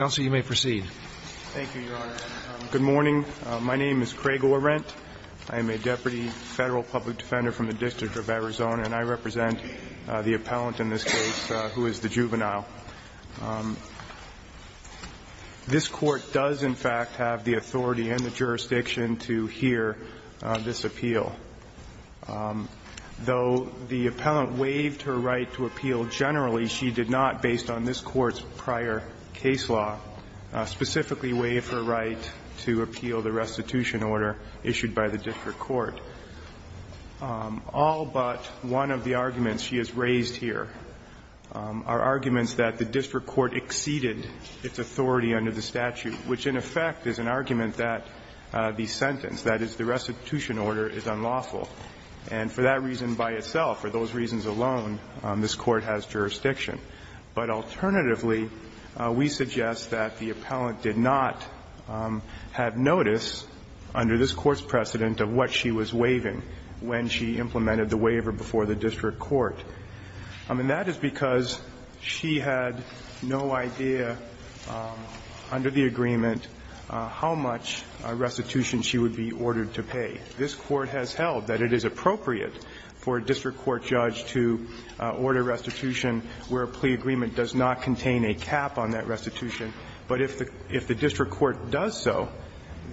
counsel, you may proceed. Thank you, Your Honor. Good morning. My name is Craig Orrent. I am a deputy Federal public defender from the District of Arizona, and I represent the appellant in this case, who is the juvenile. This Court does, in fact, have the authority and the jurisdiction to hear this appeal. Though the appellant waived her right to appeal generally, she did not, based on this law, specifically waive her right to appeal the restitution order issued by the district court. All but one of the arguments she has raised here are arguments that the district court exceeded its authority under the statute, which, in effect, is an argument that the sentence, that is, the restitution order, is unlawful. And for that reason by itself, for those reasons alone, this Court has jurisdiction. But alternatively, we suggest that the appellant did not have notice, under this Court's precedent, of what she was waiving when she implemented the waiver before the district court. And that is because she had no idea, under the agreement, how much restitution she would be ordered to pay. This Court has held that it is appropriate for a district court judge to order restitution where a plea agreement does not contain a cap on that restitution. But if the district court does so,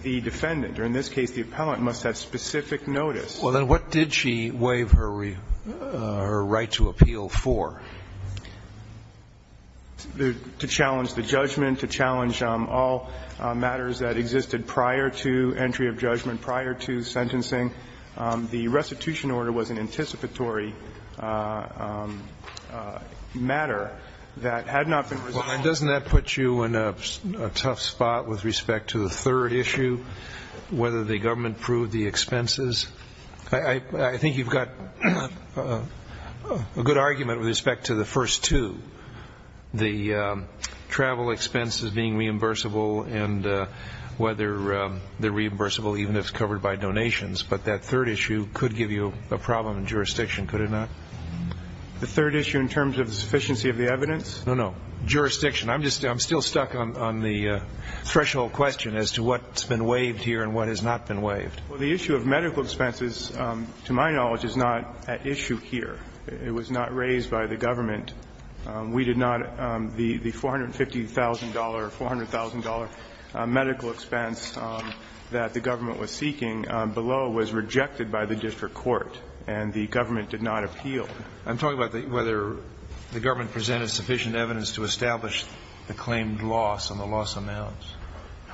the defendant, or in this case the appellant, must have specific notice. Well, then what did she waive her right to appeal for? To challenge the judgment, to challenge all matters that existed prior to entry of judgment, prior to sentencing. The restitution order was an anticipatory matter that had not been resolved. And doesn't that put you in a tough spot with respect to the third issue, whether the government proved the expenses? I think you've got a good argument with respect to the first two, the travel expenses being reimbursable and whether they're reimbursable even if it's covered by donations. But that third issue could give you a problem in jurisdiction, could it not? The third issue in terms of the sufficiency of the evidence? No, no. Jurisdiction. I'm still stuck on the threshold question as to what's been waived here and what has not been waived. Well, the issue of medical expenses, to my knowledge, is not at issue here. It was not raised by the government. We did not, the $450,000, $400,000 medical expense that the government was seeking below was rejected by the district court and the government did not appeal. I'm talking about whether the government presented sufficient evidence to establish the claimed loss and the loss amounts.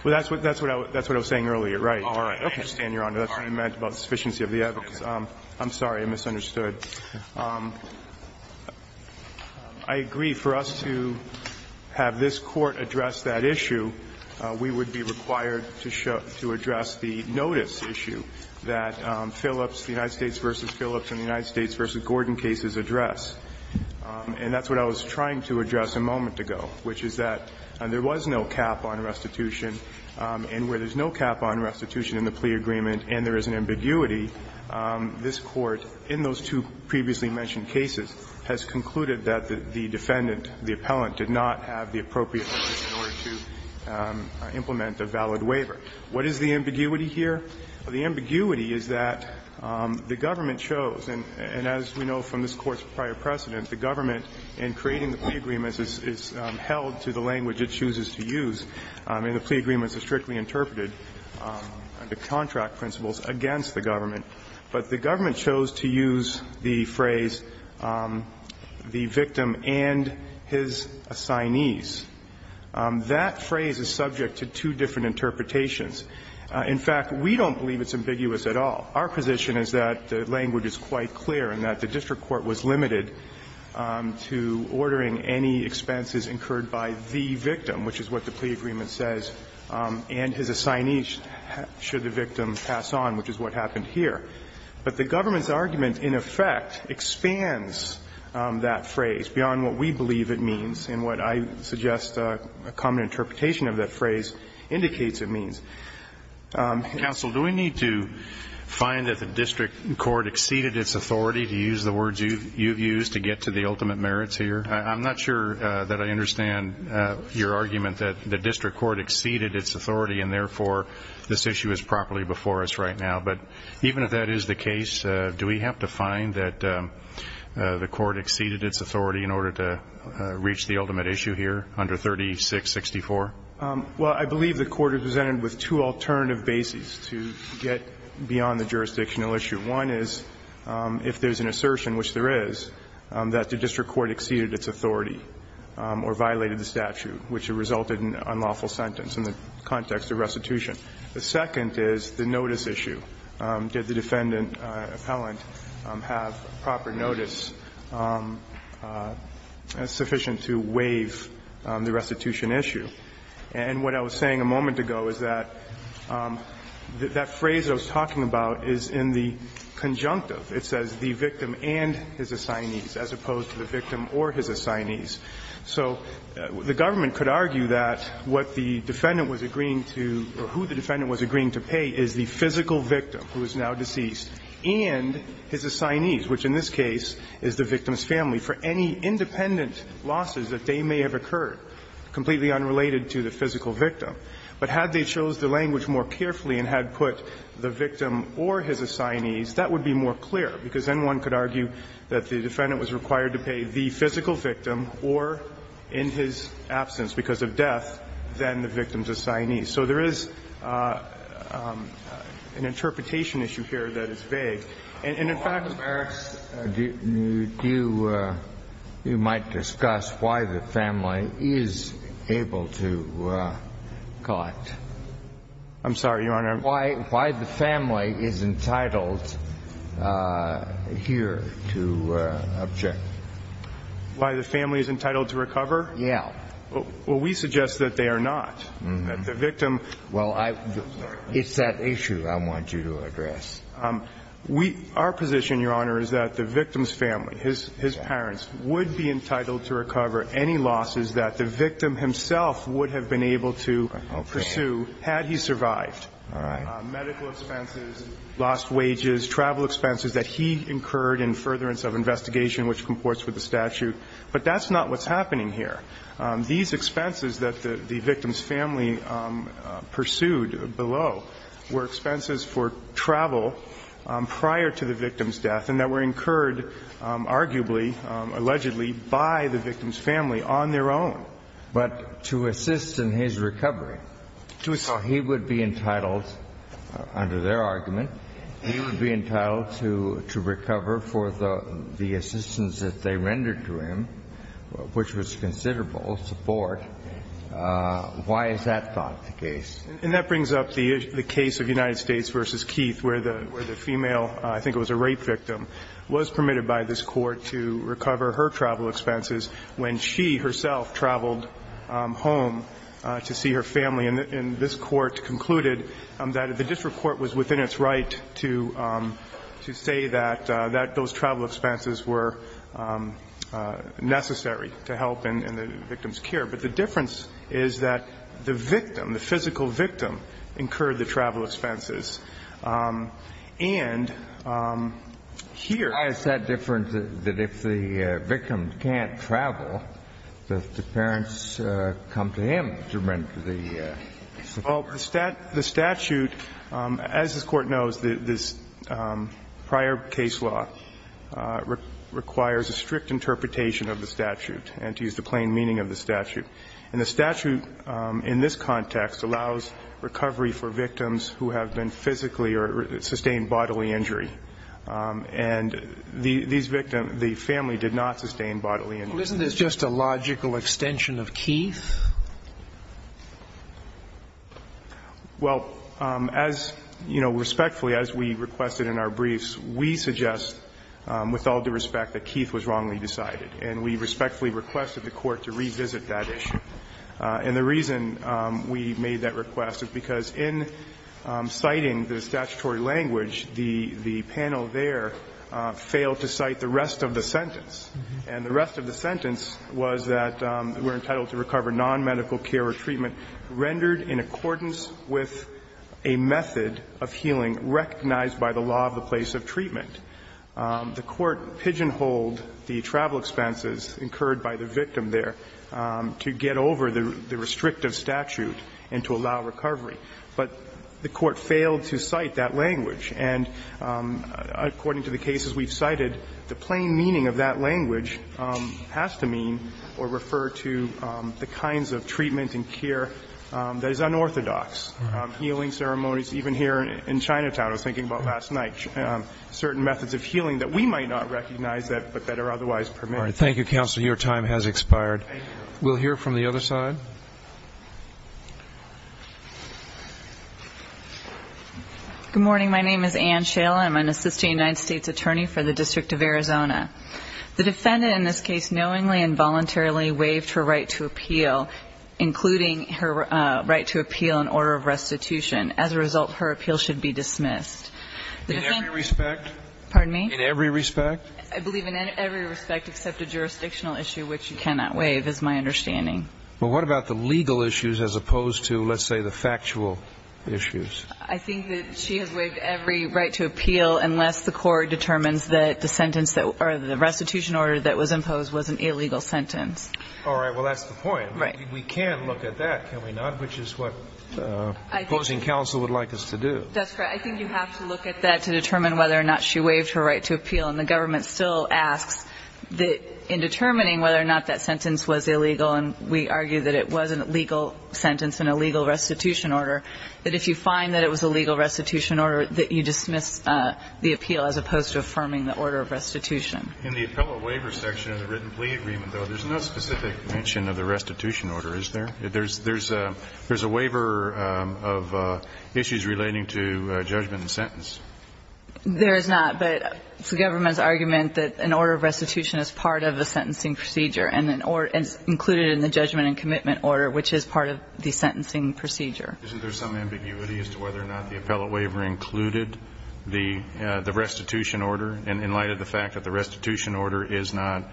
Well, that's what I was saying earlier, right. All right. Okay, Stan, you're on. That's what you meant about sufficiency of the evidence. I'm sorry, I misunderstood. I agree for us to have this Court address that issue, we would be required to address the notice issue that Phillips, the United States v. Phillips and the United States v. Gordon cases address. And that's what I was trying to address a moment ago, which is that there was no cap on restitution, and where there's no cap on restitution in the plea agreement and there is an ambiguity, this Court, in those two previously mentioned cases, has concluded that the defendant, the appellant, did not have the appropriate notice in order to implement a valid waiver. What is the ambiguity here? The ambiguity is that the government chose, and as we know from this Court's prior precedent, the government in creating the plea agreements is held to the language it chooses to use, and the plea agreements are strictly interpreted under contract principles against the government. But the government chose to use the phrase, the victim and his assignees. That phrase is subject to two different interpretations. In fact, we don't believe it's ambiguous at all. Our position is that the language is quite clear and that the district court was limited to ordering any expenses incurred by the victim, which is what the plea agreement says, and his assignees should the victim pass on, which is what happened here. But the government's argument, in effect, expands that phrase beyond what we believe it means, and what I suggest a common interpretation of that phrase indicates it means. Counsel, do we need to find that the district court exceeded its authority, to use the words you've used, to get to the ultimate merits here? I'm not sure that I understand your argument that the district court exceeded its authority, and therefore this issue is properly before us right now. But even if that is the case, do we have to find that the court exceeded its authority in order to reach the ultimate issue here under 3664? Well, I believe the court represented with two alternative bases to get beyond the jurisdictional issue. One is if there's an assertion, which there is, that the district court exceeded its authority or violated the statute, which resulted in an unlawful sentence in the context of restitution. The second is the notice issue. Did the defendant, appellant, have proper notice sufficient to waive the restitution issue? And what I was saying a moment ago is that that phrase I was talking about is in the conjunctive. It says the victim and his assignees, as opposed to the victim or his assignees. So the government could argue that what the defendant was agreeing to, or who the defendant was agreeing to pay, is the physical victim, who is now deceased, and his assignees, which in this case is the victim's family, for any independent losses that they may have occurred, completely unrelated to the physical victim. But had they chose the language more carefully and had put the victim or his assignees, that would be more clear, because then one could argue that the defendant was required to pay the physical victim or, in his absence because of death, then the victim's assignees. So there is an interpretation issue here that is vague. And in fact, Your Honor, do you – you might discuss why the family is able to collect. I'm sorry, Your Honor. Why the family is entitled here to object. Why the family is entitled to recover? Yes. Well, we suggest that they are not. That the victim – Well, I – it's that issue I want you to address. We – our position, Your Honor, is that the victim's family, his parents, would be entitled to recover any losses that the victim himself would have been able to pursue had he survived. All right. Medical expenses, lost wages, travel expenses that he incurred in furtherance of investigation which comports with the statute. But that's not what's happening here. These expenses that the victim's family pursued below were expenses for travel prior to the victim's death and that were incurred arguably, allegedly, by the victim's family on their own. But to assist in his recovery, so he would be entitled, under their argument, he would be entitled to recover for the assistance that they rendered to him, which was considerable support, why is that not the case? And that brings up the case of United States v. Keith, where the female, I think it was a rape victim, was permitted by this Court to recover her travel expenses when she herself traveled home to see her family. And this Court concluded that the district court was within its right to say that those travel expenses were necessary to help in the victim's care. But the difference is that the victim, the physical victim, incurred the travel expenses. And here the difference is that if the victim can't travel, the parents come to him to render the support. Well, the statute, as this Court knows, this prior case law requires a strict interpretation of the statute and to use the plain meaning of the statute. And the statute in this context allows recovery for victims who have been physically or sustained bodily injury. And these victims, the family did not sustain bodily injury. Well, isn't this just a logical extension of Keith? Well, as, you know, respectfully, as we requested in our briefs, we suggest, with all due respect, that Keith was wrongly decided. And we respectfully requested the Court to revisit that issue. And the reason we made that request is because in citing the statutory language, And the rest of the sentence was that we're entitled to recover nonmedical care or treatment rendered in accordance with a method of healing recognized by the law of the place of treatment. The Court pigeonholed the travel expenses incurred by the victim there to get over the restrictive statute and to allow recovery. But the Court failed to cite that language. And according to the cases we've cited, the plain meaning of that language has to mean or refer to the kinds of treatment and care that is unorthodox. Healing ceremonies, even here in Chinatown, I was thinking about last night, certain methods of healing that we might not recognize that but that are otherwise permitted. Thank you, Counselor, your time has expired. We'll hear from the other side. Good morning, my name is Ann Shale, I'm an assistant United States attorney for the District of Arizona. The defendant in this case knowingly and voluntarily waived her right to appeal, including her right to appeal in order of restitution. As a result, her appeal should be dismissed. In every respect? Pardon me? In every respect? I believe in every respect except a jurisdictional issue, which you cannot waive, is my understanding. Well, what about the legal issues as opposed to, let's say, the factual issues? I think that she has waived every right to appeal unless the Court determines that the sentence that or the restitution order that was imposed was an illegal sentence. All right, well, that's the point. Right. We can look at that, can we not? Which is what the opposing counsel would like us to do. That's right. I think you have to look at that to determine whether or not she waived her right to appeal. And the government still asks that in determining whether or not that sentence was illegal, and we argue that it was a legal sentence and a legal restitution order, that if you find that it was a legal restitution order, that you dismiss the appeal as opposed to affirming the order of restitution. In the appellate waiver section of the written plea agreement, though, there's no specific mention of the restitution order, is there? There's a waiver of issues relating to judgment and sentence. There is not. But it's the government's argument that an order of restitution is part of a sentencing procedure, and it's included in the judgment and commitment order, which is part of the sentencing procedure. Isn't there some ambiguity as to whether or not the appellate waiver included the restitution order in light of the fact that the restitution order is not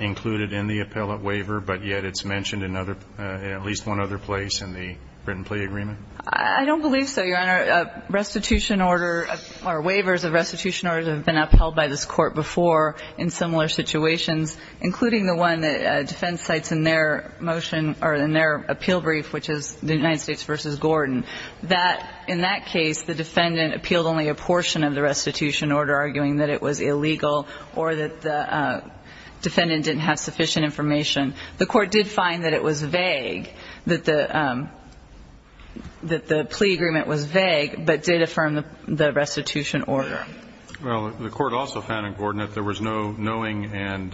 included in the appellate waiver, but yet it's mentioned in at least one other place in the written plea agreement? I don't believe so, Your Honor. Restitution order or waivers of restitution orders have been upheld by this court before in similar situations, including the one that defense cites in their motion or in their appeal brief, which is the United States v. Gordon, that in that case, the defendant appealed only a portion of the restitution order, arguing that it was illegal or that the defendant didn't have sufficient information. The court did find that it was vague, that the plea agreement was vague, but did affirm the restitution order. Well, the court also found in Gordon that there was no knowing and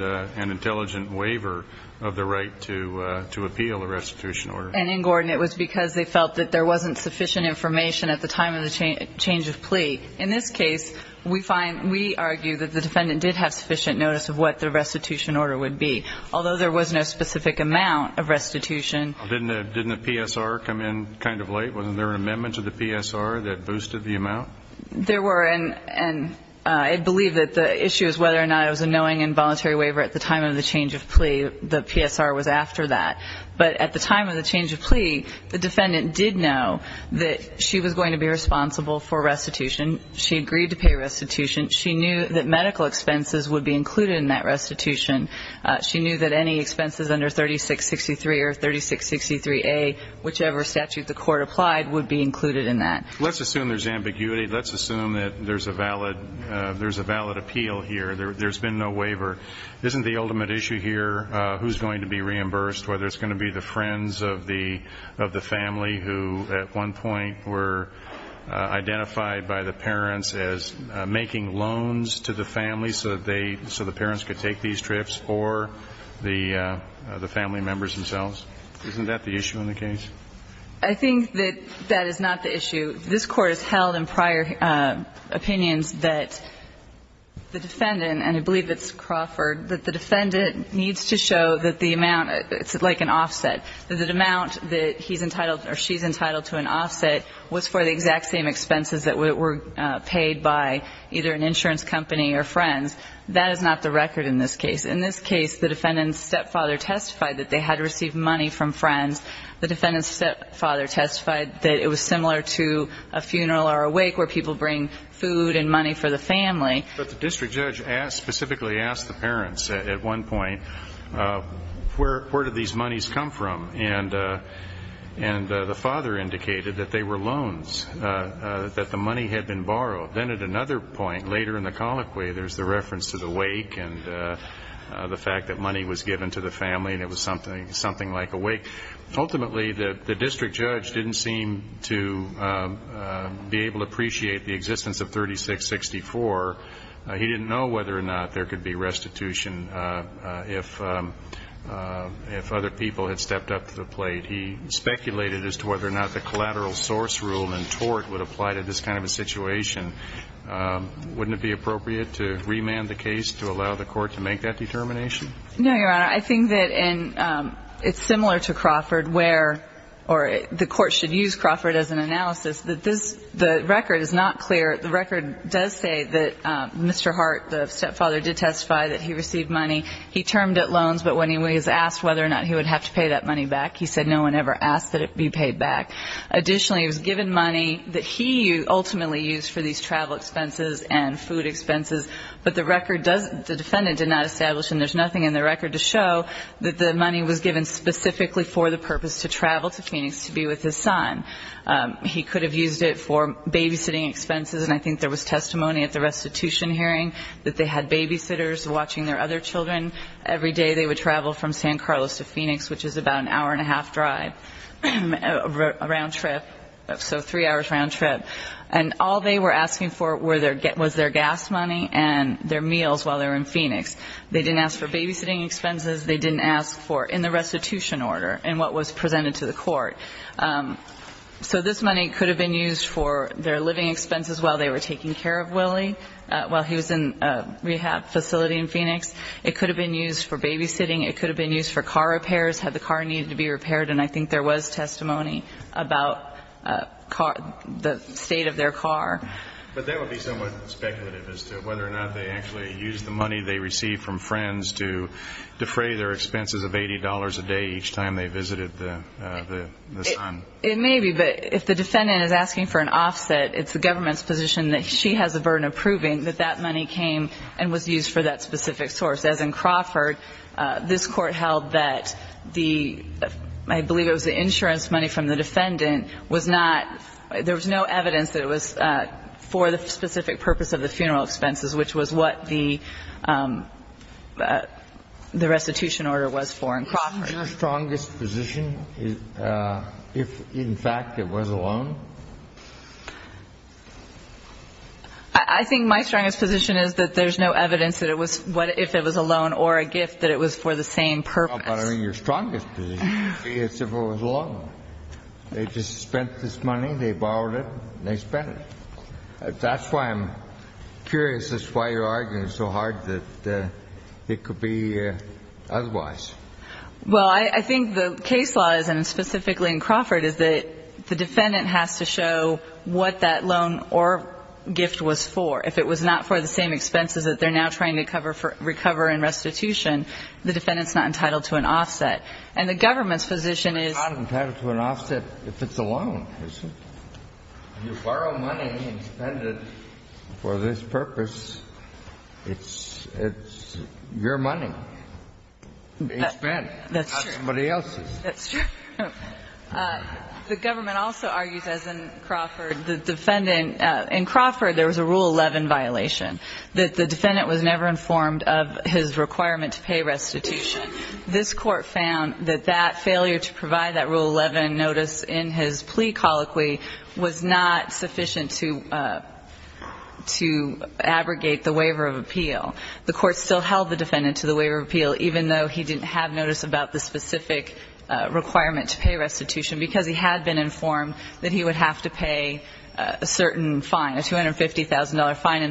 intelligent waiver of the right to appeal the restitution order. And in Gordon, it was because they felt that there wasn't sufficient information at the time of the change of plea. In this case, we find, we argue that the defendant did have sufficient notice of what the restitution order would be, although there was no specific amount of restitution. Didn't the PSR come in kind of late? Wasn't there an amendment to the PSR that boosted the amount? There were. And I believe that the issue is whether or not it was a knowing and voluntary waiver at the time of the change of plea. The PSR was after that. But at the time of the change of plea, the defendant did know that she was going to be responsible for restitution. She agreed to pay restitution. She knew that medical expenses would be included in that restitution. She knew that any expenses under 3663 or 3663A, whichever statute the court applied, would be included in that. Let's assume there's ambiguity. Let's assume that there's a valid, there's a valid appeal here. There's been no waiver. Isn't the ultimate issue here who's going to be reimbursed, whether it's going to be the friends of the family who at one point were identified by the parents as making loans to the family so that they, so the parents could take these trips, or the family members themselves? Isn't that the issue in the case? I think that that is not the issue. This Court has held in prior opinions that the defendant, and I believe that's Crawford, that the defendant needs to show that the amount, it's like an offset, that the amount that he's entitled or she's entitled to an offset was for the exact same expenses that were paid by either an insurance company or friends. That is not the record in this case. In this case, the defendant's stepfather testified that they had received money from friends. The defendant's stepfather testified that it was similar to a funeral or a wake where people bring food and money for the family. But the district judge specifically asked the parents at one point, where do these monies come from? And the father indicated that they were loans, that the money had been borrowed. Then at another point, later in the colloquy, there's the reference to the wake and the fact that money was given to the family and it was something like a wake. Ultimately, the district judge didn't seem to be able to appreciate the existence of 3664. He didn't know whether or not there could be restitution if other people had stepped up to the plate. He speculated as to whether or not the collateral source rule and tort would apply to this kind of a situation. Wouldn't it be appropriate to remand the case to allow the Court to make that determination? No, Your Honor. I think that it's similar to Crawford where the Court should use Crawford as an analysis. The record is not clear. The record does say that Mr. Hart, the stepfather, did testify that he received money. He termed it loans, but when he was asked whether or not he would have to pay that money back, he said no one ever asked that it be paid back. Additionally, it was given money that he ultimately used for these travel expenses and food expenses. But the record does, the defendant did not establish, and there's nothing in the record to show, that the money was given specifically for the purpose to travel to Phoenix to be with his son. He could have used it for babysitting expenses, and I think there was testimony at the restitution hearing that they had babysitters watching their other children. Every day, they would travel from San Carlos to Phoenix, which is about an hour-and-a-half drive, a round trip, so three hours round trip. And all they were asking for was their gas money and their meals while they were in Phoenix. They didn't ask for babysitting expenses. They didn't ask for, in the restitution order, in what was presented to the court. So this money could have been used for their living expenses while they were taking care of Willie while he was in a rehab facility in Phoenix. It could have been used for babysitting. It could have been used for car repairs, had the car needed to be repaired, and I think there was testimony about the state of their car. But that would be somewhat speculative as to whether or not they actually used the money they received from friends to defray their expenses of $80 a day each time they visited the son. It may be, but if the defendant is asking for an offset, it's the government's position that she has a burden of proving that that money came and was used for that specific source. As in Crawford, this court held that the, I believe it was the insurance money from the defendant was not, there was no evidence that it was for the specific purpose of the funeral expenses, which was what the restitution order was for in Crawford. Is your strongest position if, in fact, it was a loan? I think my strongest position is that there's no evidence that it was, if it was a loan or a gift, that it was for the same purpose. No, but I mean your strongest position would be as if it was a loan. They just spent this money, they borrowed it, and they spent it. That's why I'm curious as to why you're arguing so hard that it could be otherwise. Well, I think the case law is, and specifically in Crawford, is that the defendant has to show what that loan or gift was for. If it was not for the same expenses that they're now trying to cover for, recover and restitution, the defendant's not entitled to an offset. And the government's position is. It's not entitled to an offset if it's a loan, is it? You borrow money and spend it for this purpose. It's your money. It's spent. That's true. Not somebody else's. That's true. The government also argues, as in Crawford, the defendant, in Crawford there was a Rule 11 violation. The defendant was never informed of his requirement to pay restitution. This Court found that that failure to provide that Rule 11 notice in his plea colloquy was not sufficient to abrogate the waiver of appeal. The Court still held the defendant to the waiver of appeal even though he didn't have notice about the specific requirement to pay restitution because he had been fined and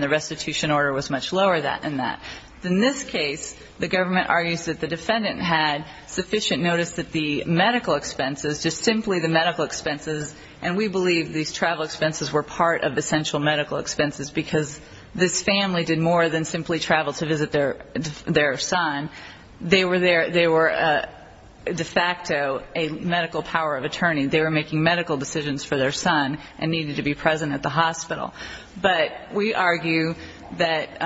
the restitution order was much lower than that. In this case, the government argues that the defendant had sufficient notice that the medical expenses, just simply the medical expenses, and we believe these travel expenses were part of essential medical expenses because this family did more than simply travel to visit their son. They were de facto a medical power of attorney. They were making medical decisions for their son and needed to be present at the hospital. But we argue that,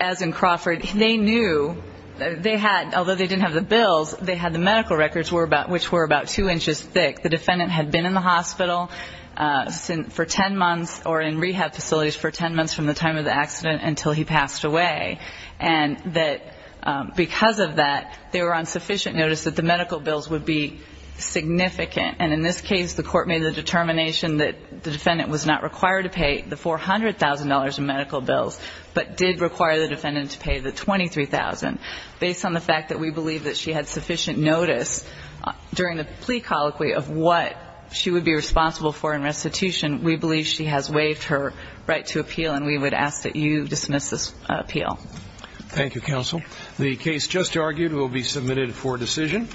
as in Crawford, they knew, they had, although they didn't have the bills, they had the medical records which were about two inches thick. The defendant had been in the hospital for ten months or in rehab facilities for ten months from the time of the accident until he passed away. And that because of that, they were on sufficient notice that the medical bills would be significant. And in this case, the Court made the determination that the defendant was not required to pay the $400,000 in medical bills but did require the defendant to pay the $23,000. Based on the fact that we believe that she had sufficient notice during the plea colloquy of what she would be responsible for in restitution, we believe she has waived her right to appeal and we would ask that you dismiss this appeal. Thank you, Counsel. The case just argued will be submitted for decision.